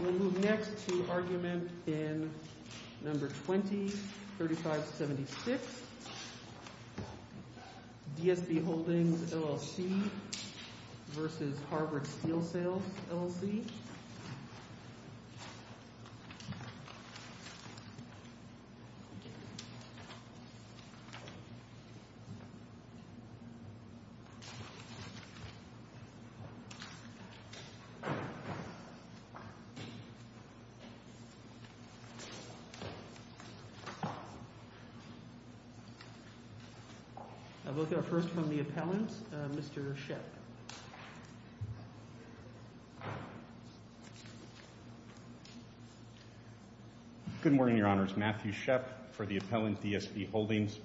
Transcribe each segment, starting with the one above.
We'll move next to argument in No. 20-3576, DSB Holdings, LLC v. Harvard Steel Sales, LLC Both are first from the appellant, Mr. Shep. Good morning, Your Honors. Matthew Shep for the appellant, DSB Holdings,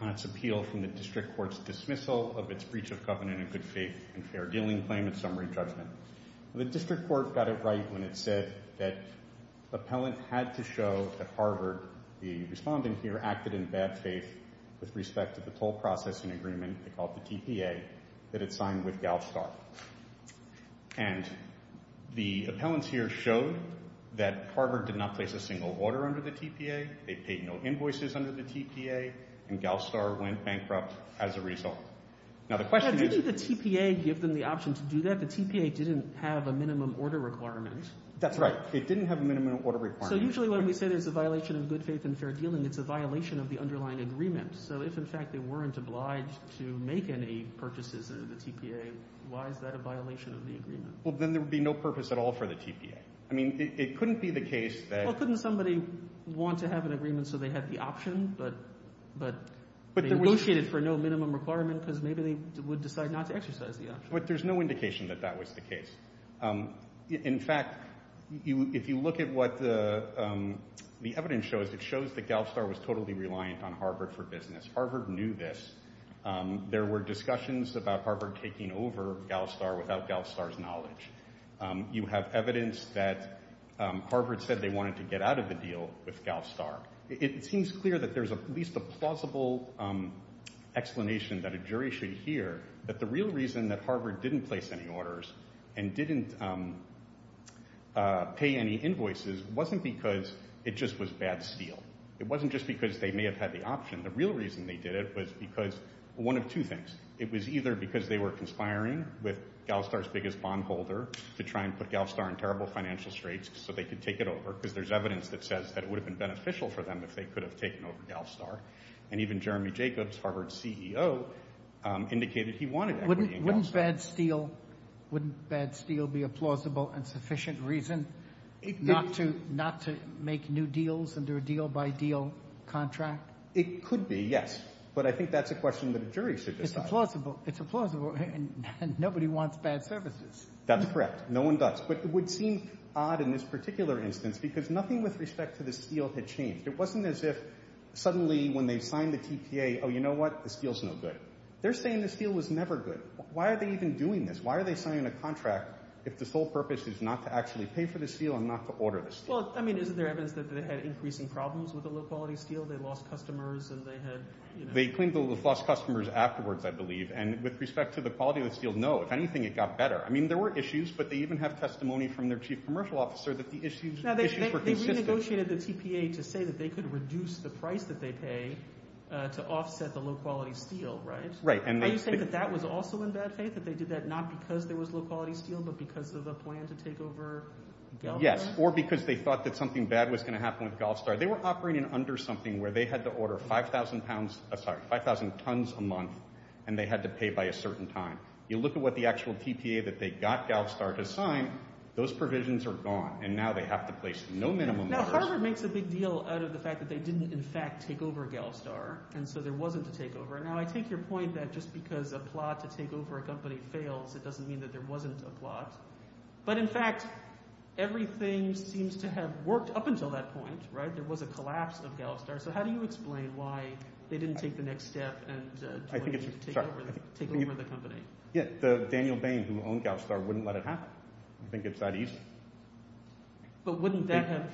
on its appeal from the district court's dismissal of its Breach of Covenant and Good Faith and Fair Dealing Claim and Summary Judgment. The district court got it right when it said that the appellant had to show that Harvard, the respondent here, acted in bad faith with respect to the toll processing agreement, they call it the TPA, that it signed with GALSTAR. And the appellants here showed that Harvard did not place a single order under the TPA, they paid no invoices under the TPA, and GALSTAR went bankrupt as a result. Now the question is... But didn't the TPA give them the option to do that? The TPA didn't have a minimum order requirement. That's right. It didn't have a minimum order requirement. So usually when we say there's a violation of good faith and fair dealing, it's a violation of the underlying agreement. So if, in fact, they weren't obliged to make any purchases under the TPA, why is that a violation of the agreement? Well, then there would be no purpose at all for the TPA. I mean, it couldn't be the case that... They could have an agreement so they had the option, but they negotiated for no minimum requirement because maybe they would decide not to exercise the option. But there's no indication that that was the case. In fact, if you look at what the evidence shows, it shows that GALSTAR was totally reliant on Harvard for business. Harvard knew this. There were discussions about Harvard taking over GALSTAR without GALSTAR's knowledge. You have evidence that Harvard said they wanted to get out of the deal with GALSTAR. It seems clear that there's at least a plausible explanation that a jury should hear that the real reason that Harvard didn't place any orders and didn't pay any invoices wasn't because it just was bad steel. It wasn't just because they may have had the option. The real reason they did it was because one of two things. It was either because they were conspiring with GALSTAR's biggest bondholder to try and put GALSTAR in terrible financial straits so they could take it over because there's evidence that says that it would have been beneficial for them if they could have taken over GALSTAR. And even Jeremy Jacobs, Harvard's CEO, indicated he wanted equity in GALSTAR. Wouldn't bad steel be a plausible and sufficient reason not to make new deals under a deal-by-deal contract? It could be, yes. But I think that's a question that a jury should decide. It's a plausible. Nobody wants bad services. That's correct. No one does. But it would seem odd in this particular instance because nothing with respect to the steel had changed. It wasn't as if suddenly when they signed the TPA, oh, you know what, the steel's no good. They're saying the steel was never good. Why are they even doing this? Why are they signing a contract if the sole purpose is not to actually pay for the steel and not to order the steel? Well, I mean, isn't there evidence that they had increasing problems with the low-quality steel? They lost customers and they had, you know. They claimed they lost customers afterwards, I believe. And with respect to the quality of the steel, no. If anything, it got better. I mean, there were issues, but they even have testimony from their chief commercial officer that the issues were consistent. Now, they renegotiated the TPA to say that they could reduce the price that they pay to offset the low-quality steel, right? Right. Are you saying that that was also in bad faith, that they did that not because there was low-quality steel but because of a plan to take over GALSTAR? Yes, or because they thought that something bad was going to happen with GALSTAR. They were operating under something where they had to order 5,000 pounds – sorry, 5,000 tons a month, and they had to pay by a certain time. You look at what the actual TPA that they got GALSTAR to sign, those provisions are gone, and now they have to place no minimum orders. Now, Harvard makes a big deal out of the fact that they didn't in fact take over GALSTAR, and so there wasn't a takeover. Now, I take your point that just because a plot to take over a company fails, it doesn't mean that there wasn't a plot. But in fact, everything seems to have worked up until that point, right? There was a collapse of GALSTAR. So how do you explain why they didn't take the next step and take over the company? Daniel Bain, who owned GALSTAR, wouldn't let it happen. You think it's that easy? But wouldn't that have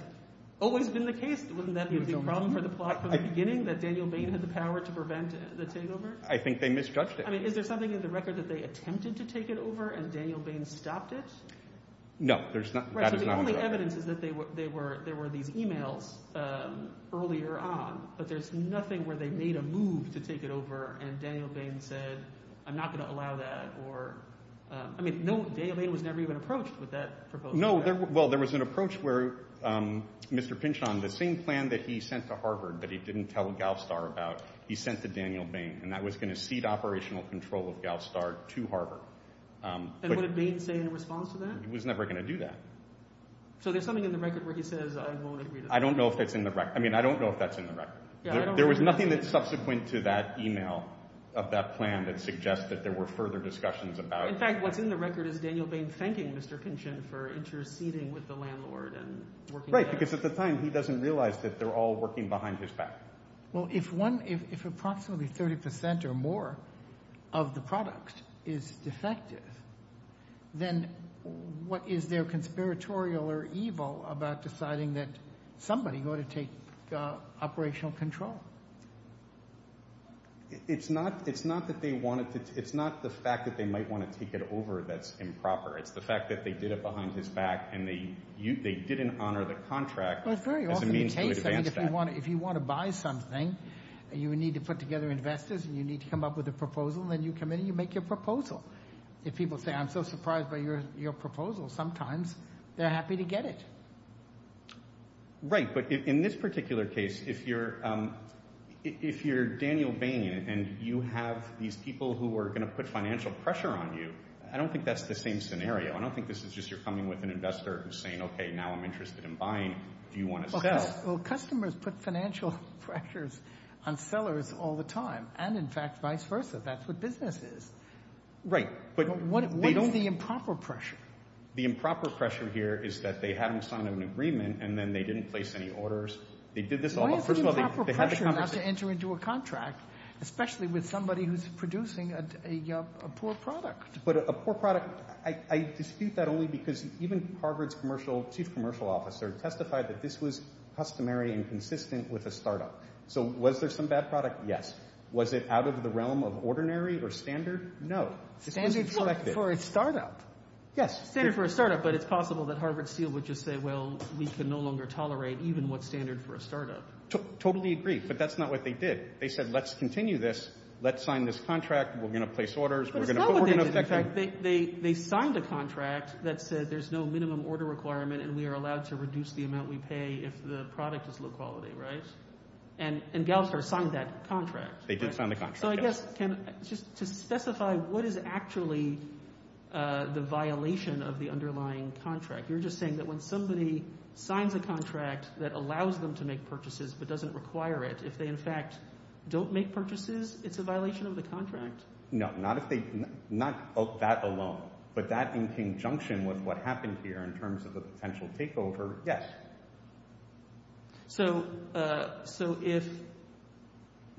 always been the case? Wouldn't that be a problem for the plot from the beginning, that Daniel Bain had the power to prevent the takeover? I think they misjudged it. I mean, is there something in the record that they attempted to take it over and Daniel Bain stopped it? No. Right, so the only evidence is that there were these e-mails earlier on, but there's nothing where they made a move to take it over and Daniel Bain said, I'm not going to allow that. I mean, they was never even approached with that proposal. No, well, there was an approach where Mr. Pynchon, the same plan that he sent to Harvard that he didn't tell GALSTAR about, he sent to Daniel Bain, and that was going to cede operational control of GALSTAR to Harvard. And would Bain say in response to that? He was never going to do that. So there's something in the record where he says, I won't agree to that. I don't know if that's in the record. I mean, I don't know if that's in the record. There was nothing that's subsequent to that e-mail of that plan that suggests that there were further discussions about it. In fact, what's in the record is Daniel Bain thanking Mr. Pynchon for interceding with the landlord and working with him. Right, because at the time he doesn't realize that they're all working behind his back. Well, if one, if approximately 30% or more of the product is defective, then what is their conspiratorial or evil about deciding that somebody ought to take operational control? It's not that they wanted to, it's not the fact that they might want to take it over that's improper. It's the fact that they did it behind his back, and they didn't honor the contract as a means to advance that. Well, it's very often the case, I mean, if you want to buy something, you need to put together investors, and you need to come up with a proposal, and then you come in and you make your proposal. If people say, I'm so surprised by your proposal, sometimes they're happy to get it. Right, but in this particular case, if you're Daniel Bain, and you have these people who are going to put financial pressure on you, I don't think that's the same scenario. I don't think this is just you're coming with an investor who's saying, okay, now I'm interested in buying, do you want to sell? Well, customers put financial pressures on sellers all the time, and in fact, vice versa. That's what business is. Right. What is the improper pressure? The improper pressure here is that they haven't signed an agreement, and then they didn't place any orders. Why is it improper pressure not to enter into a contract, especially with somebody who's producing a poor product? But a poor product, I dispute that only because even Harvard's chief commercial officer testified that this was customary and consistent with a startup. So was there some bad product? Yes. Was it out of the realm of ordinary or standard? No. Standard for a startup. Yes. Standard for a startup, but it's possible that Harvard Steel would just say, well, we can no longer tolerate even what's standard for a startup. Totally agree, but that's not what they did. They said, let's continue this, let's sign this contract, we're going to place orders. But it's not what they did. In fact, they signed a contract that said there's no minimum order requirement and we are allowed to reduce the amount we pay if the product is low quality, right? And Gallagher signed that contract. They did sign the contract, yes. So I guess just to specify what is actually the violation of the underlying contract, you're just saying that when somebody signs a contract that allows them to make purchases but doesn't require it, if they in fact don't make purchases, it's a violation of the contract? No, not that alone, but that in conjunction with what happened here in terms of the potential takeover, yes. So if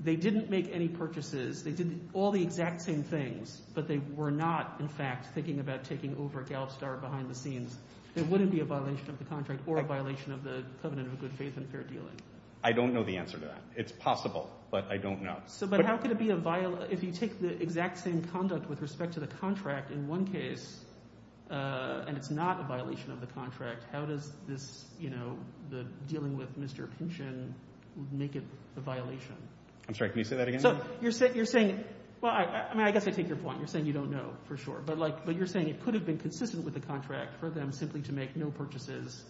they didn't make any purchases, they did all the exact same things, but they were not in fact thinking about taking over Gallup Star behind the scenes, it wouldn't be a violation of the contract or a violation of the covenant of good faith and fair dealing? I don't know the answer to that. It's possible, but I don't know. But how could it be a violation? If you take the exact same conduct with respect to the contract in one case and it's not a violation of the contract, how does this, you know, the dealing with Mr. Pynchon make it a violation? I'm sorry, can you say that again? So you're saying, well, I guess I take your point. You're saying you don't know for sure. But you're saying it could have been consistent with the contract for them simply to make no purchases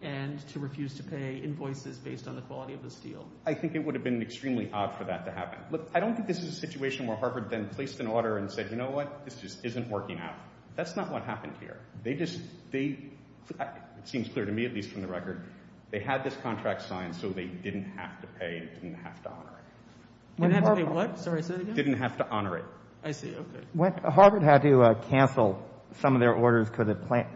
and to refuse to pay invoices based on the quality of this deal. I think it would have been extremely odd for that to happen. Look, I don't think this is a situation where Harvard then placed an order and said, you know what, this just isn't working out. That's not what happened here. They just, they, it seems clear to me at least from the record, they had this contract signed so they didn't have to pay, didn't have to honor it. Didn't have to pay what? Sorry, say that again. Didn't have to honor it. I see, okay. Harvard had to cancel some of their orders because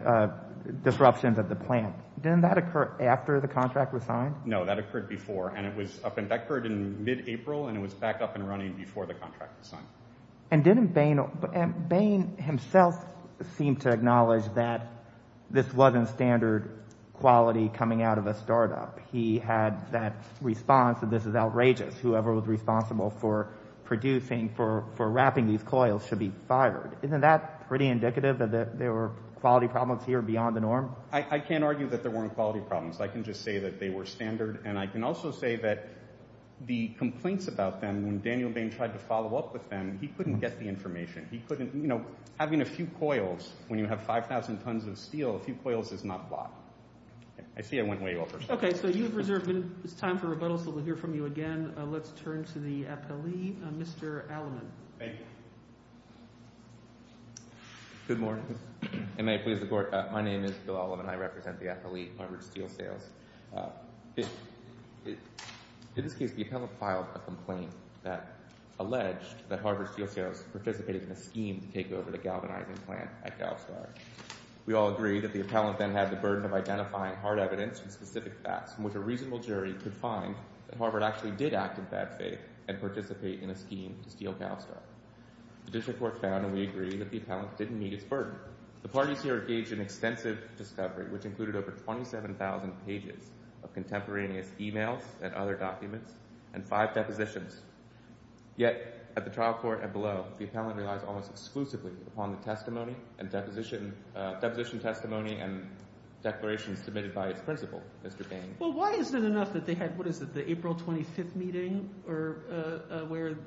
of disruptions at the plant. Didn't that occur after the contract was signed? No, that occurred before. And it was, that occurred in mid-April, and it was back up and running before the contract was signed. And didn't Bain, Bain himself seemed to acknowledge that this wasn't standard quality coming out of a startup. He had that response that this is outrageous. Whoever was responsible for producing, for wrapping these coils should be fired. Isn't that pretty indicative that there were quality problems here beyond the norm? I can't argue that there weren't quality problems. I can just say that they were standard. And I can also say that the complaints about them, when Daniel Bain tried to follow up with them, he couldn't get the information. He couldn't, you know, having a few coils when you have 5,000 tons of steel, a few coils is not a lot. I see I went way over. Okay, so you've reserved. It's time for rebuttals. We'll hear from you again. Let's turn to the appellee, Mr. Alleman. Thank you. Good morning. May I please report? My name is Bill Alleman. I represent the appellee, Harvard Steel Sales. In this case, the appellant filed a complaint that alleged that Harvard Steel Sales participated in a scheme to take over the galvanizing plant at GalStar. We all agree that the appellant then had the burden of identifying hard evidence and specific facts from which a reasonable jury could find that Harvard actually did act in bad faith and participate in a scheme to steal GalStar. The district court found, and we agree, that the appellant didn't meet its burden. However, the parties here engaged in extensive discovery, which included over 27,000 pages of contemporaneous e-mails and other documents and five depositions. Yet at the trial court and below, the appellant relies almost exclusively upon the testimony and deposition – deposition testimony and declarations submitted by its principal, Mr. Bain. Well, why isn't it enough that they had – what is it, the April 25th meeting where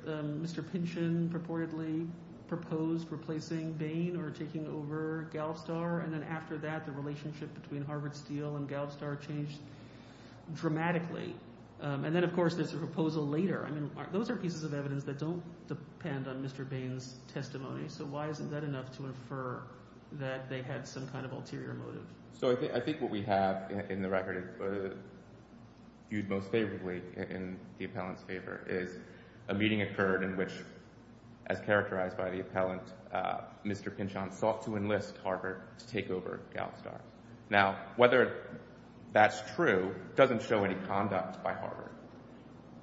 Mr. Pynchon purportedly proposed replacing Bain or taking over GalStar? And then after that, the relationship between Harvard Steel and GalStar changed dramatically. And then, of course, there's the proposal later. I mean those are pieces of evidence that don't depend on Mr. Bain's testimony. So why isn't that enough to infer that they had some kind of ulterior motive? So I think what we have in the record viewed most favorably in the appellant's favor is a meeting occurred in which, as characterized by the appellant, Mr. Pynchon sought to enlist Harvard to take over GalStar. Now, whether that's true doesn't show any conduct by Harvard.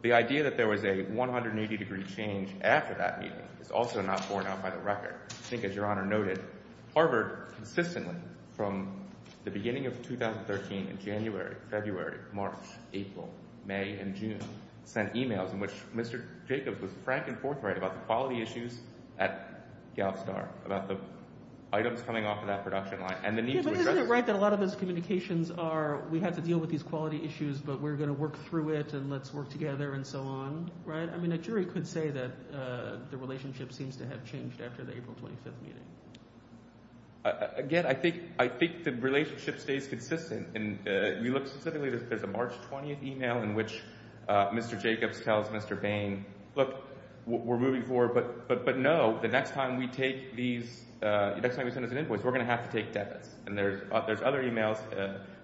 The idea that there was a 180-degree change after that meeting is also not borne out by the record. I think, as Your Honor noted, Harvard consistently from the beginning of 2013 in January, February, March, April, May, and June sent emails in which Mr. Jacobs was frank and forthright about the quality issues at GalStar, about the items coming off of that production line and the need to address them. Isn't it right that a lot of those communications are we have to deal with these quality issues, but we're going to work through it, and let's work together, and so on? I mean a jury could say that the relationship seems to have changed after the April 25th meeting. Again, I think the relationship stays consistent. We look specifically at the March 20th email in which Mr. Jacobs tells Mr. Bain, look, we're moving forward, but no, the next time we send this invoice, we're going to have to take debits. And there's other emails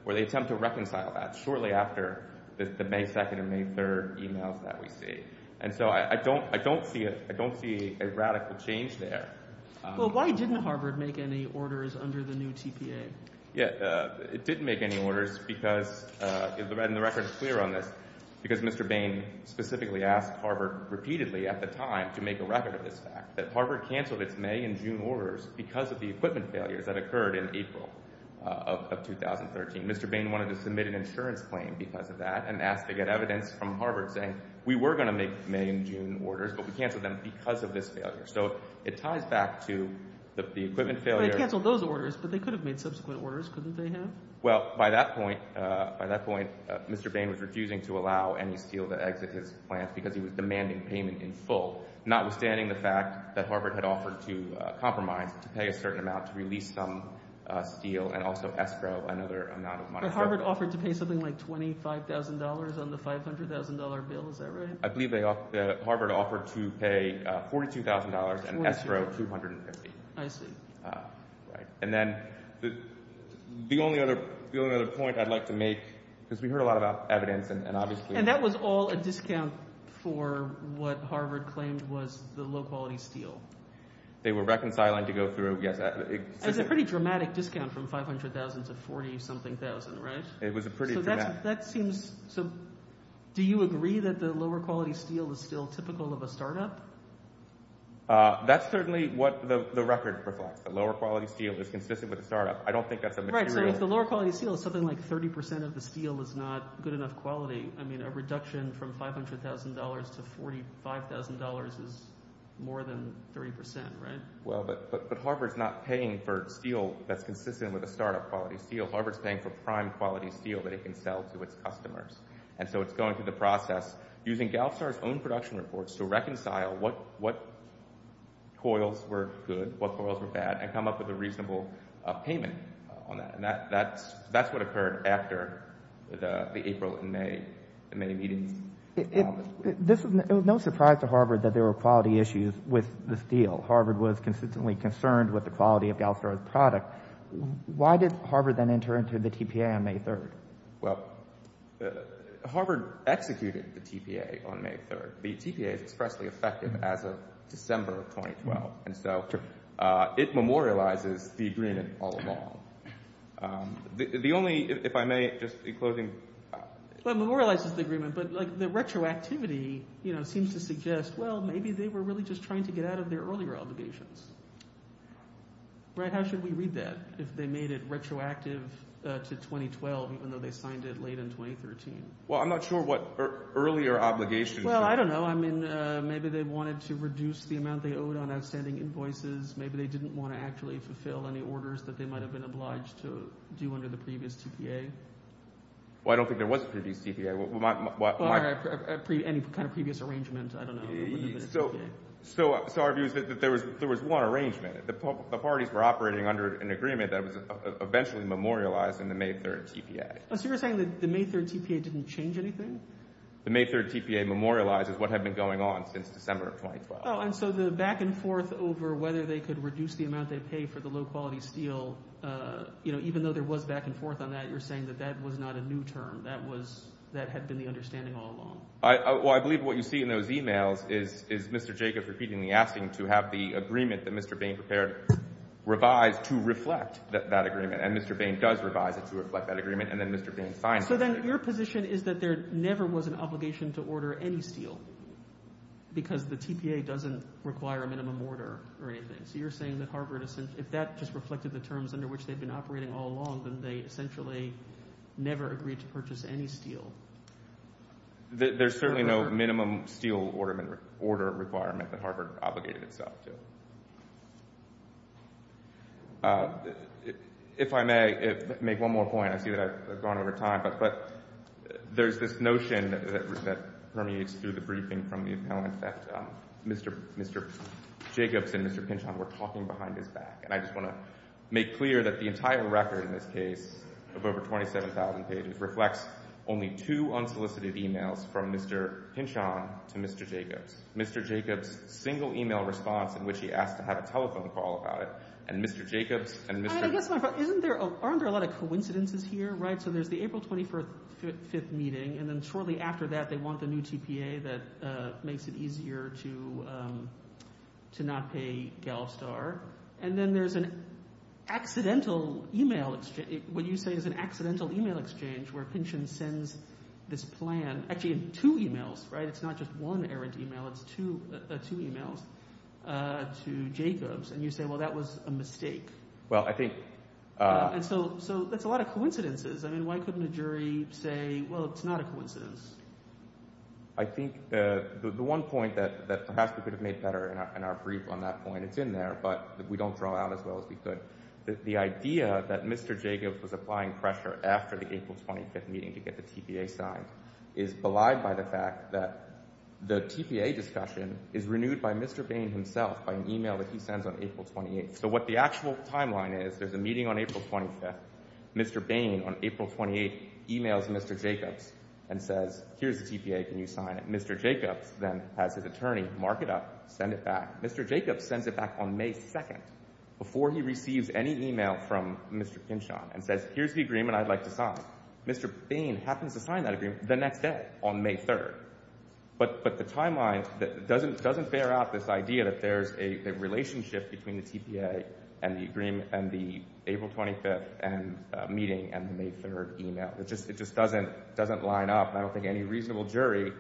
where they attempt to reconcile that shortly after the May 2nd and May 3rd emails that we see. And so I don't see a radical change there. Well, why didn't Harvard make any orders under the new TPA? It didn't make any orders, and the record is clear on this, because Mr. Bain specifically asked Harvard repeatedly at the time to make a record of this fact, that Harvard canceled its May and June orders because of the equipment failures that occurred in April of 2013. Mr. Bain wanted to submit an insurance claim because of that and asked to get evidence from Harvard saying we were going to make May and June orders, but we canceled them because of this failure. So it ties back to the equipment failure. They canceled those orders, but they could have made subsequent orders, couldn't they have? Well, by that point, Mr. Bain was refusing to allow any steel to exit his plant because he was demanding payment in full, notwithstanding the fact that Harvard had offered to compromise to pay a certain amount to release some steel and also escrow, another amount of money. But Harvard offered to pay something like $25,000 on the $500,000 bill. Is that right? I believe Harvard offered to pay $42,000 and escrow $250,000. I see. Right. And then the only other point I'd like to make, because we heard a lot about evidence and obviously— And that was all a discount for what Harvard claimed was the low-quality steel. They were reconciling to go through—yes. It was a pretty dramatic discount from $500,000 to $40-something thousand, right? It was a pretty dramatic— So do you agree that the lower-quality steel is still typical of a startup? That's certainly what the record reflects, that lower-quality steel is consistent with a startup. I don't think that's a material— Right. So if the lower-quality steel is something like 30% of the steel is not good enough quality, I mean a reduction from $500,000 to $45,000 is more than 30%, right? Well, but Harvard's not paying for steel that's consistent with a startup-quality steel. Harvard's paying for prime-quality steel that it can sell to its customers. And so it's going through the process using Galstar's own production reports to reconcile what coils were good, what coils were bad, and come up with a reasonable payment on that. And that's what occurred after the April and May meetings. It was no surprise to Harvard that there were quality issues with the steel. Harvard was consistently concerned with the quality of Galstar's product. Why did Harvard then enter into the TPA on May 3rd? Well, Harvard executed the TPA on May 3rd. The TPA is expressly effective as of December of 2012. And so it memorializes the agreement all along. The only—if I may, just in closing— well, it memorializes the agreement, but the retroactivity seems to suggest, well, maybe they were really just trying to get out of their earlier obligations. How should we read that if they made it retroactive to 2012 even though they signed it late in 2013? Well, I'm not sure what earlier obligations— Well, I don't know. I mean maybe they wanted to reduce the amount they owed on outstanding invoices. Maybe they didn't want to actually fulfill any orders that they might have been obliged to do under the previous TPA. Well, I don't think there was a previous TPA. Any kind of previous arrangement, I don't know. So our view is that there was one arrangement. The parties were operating under an agreement that was eventually memorialized in the May 3rd TPA. So you're saying that the May 3rd TPA didn't change anything? The May 3rd TPA memorializes what had been going on since December of 2012. Oh, and so the back and forth over whether they could reduce the amount they paid for the low-quality steel, even though there was back and forth on that, you're saying that that was not a new term. That had been the understanding all along. Well, I believe what you see in those emails is Mr. Jacobs repeatedly asking to have the agreement that Mr. Bain prepared revised to reflect that agreement, and Mr. Bain does revise it to reflect that agreement, and then Mr. Bain signs it. So then your position is that there never was an obligation to order any steel because the TPA doesn't require a minimum order or anything. So you're saying that if that just reflected the terms under which they'd been operating all along, then they essentially never agreed to purchase any steel? There's certainly no minimum steel order requirement that Harvard obligated itself to. If I may make one more point, I see that I've gone over time, but there's this notion that permeates through the briefing from the appellant that Mr. Jacobs and Mr. Pinchon were talking behind his back, and I just want to make clear that the entire record in this case of over 27,000 pages reflects only two unsolicited emails from Mr. Pinchon to Mr. Jacobs. Mr. Jacobs' single email response in which he asked to have a telephone call about it and Mr. Jacobs and Mr. Aren't there a lot of coincidences here, right? So there's the April 25th meeting, and then shortly after that they want the new TPA that makes it easier to not pay GalStar. And then there's an accidental email exchange. What you say is an accidental email exchange where Pinchon sends this plan, actually two emails, right? It's not just one errant email. It's two emails to Jacobs. And you say, well, that was a mistake. And so that's a lot of coincidences. I mean why couldn't a jury say, well, it's not a coincidence? I think the one point that perhaps we could have made better in our brief on that point, it's in there, but we don't draw out as well as we could. The idea that Mr. Jacobs was applying pressure after the April 25th meeting to get the TPA signed is belied by the fact that the TPA discussion is renewed by Mr. Bain himself by an email that he sends on April 28th. So what the actual timeline is, there's a meeting on April 25th. Mr. Bain on April 28th emails Mr. Jacobs and says, here's the TPA. Can you sign it? Mr. Jacobs then has his attorney mark it up, send it back. Mr. Jacobs sends it back on May 2nd before he receives any email from Mr. Pinchon and says, here's the agreement I'd like to sign. Mr. Bain happens to sign that agreement the next day on May 3rd. But the timeline doesn't bear out this idea that there's a relationship between the TPA and the April 25th meeting and the May 3rd email. It just doesn't line up. I don't think any reasonable jury,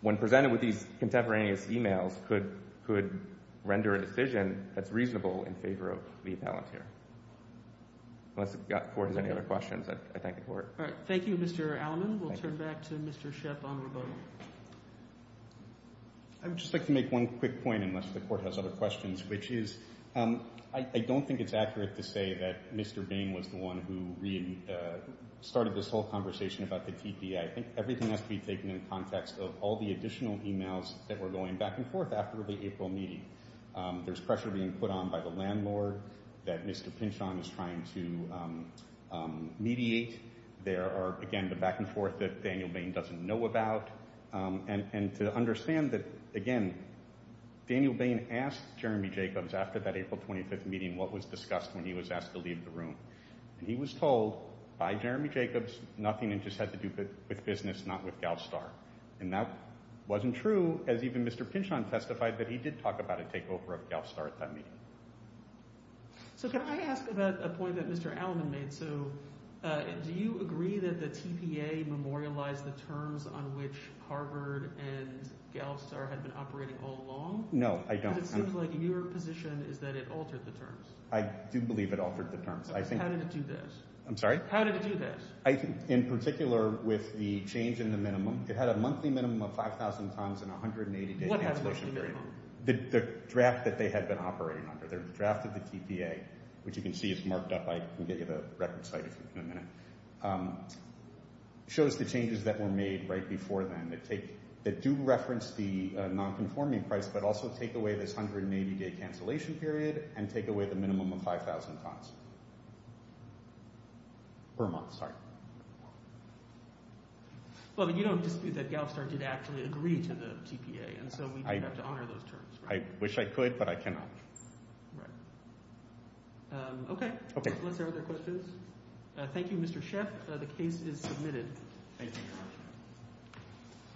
when presented with these contemporaneous emails, could render a decision that's reasonable in favor of the appellant here. Unless the Court has any other questions, I thank the Court. All right. Thank you, Mr. Alleman. We'll turn back to Mr. Shepp on rebuttal. I would just like to make one quick point, unless the Court has other questions, which is I don't think it's accurate to say that Mr. Bain was the one who started this whole conversation about the TPA. I think everything has to be taken in the context of all the additional emails that were going back and forth after the April meeting. There's pressure being put on by the landlord that Mr. Pinchon is trying to mediate. There are, again, the back and forth that Daniel Bain doesn't know about. And to understand that, again, Daniel Bain asked Jeremy Jacobs after that April 25th meeting what was discussed when he was asked to leave the room. And he was told by Jeremy Jacobs, nothing had to do with business, not with GALSTAR. And that wasn't true, as even Mr. Pinchon testified that he did talk about a takeover of GALSTAR at that meeting. So can I ask about a point that Mr. Alleman made? So do you agree that the TPA memorialized the terms on which Harvard and GALSTAR had been operating all along? No, I don't. Because it seems like your position is that it altered the terms. I do believe it altered the terms. How did it do this? I'm sorry? How did it do this? In particular with the change in the minimum. It had a monthly minimum of 5,000 tons and a 180-day cancellation period. What happened to the minimum? The draft that they had been operating under. They drafted the TPA, which you can see is marked up. I can get you the record site in a minute. It shows the changes that were made right before then that do reference the nonconforming price but also take away this 180-day cancellation period and take away the minimum of 5,000 tons per month. Sorry. Well, but you don't dispute that GALSTAR did actually agree to the TPA. And so we do have to honor those terms. I wish I could, but I cannot. Right. Okay. Okay. Are there other questions? Thank you, Mr. Sheff. The case is submitted. Thank you very much.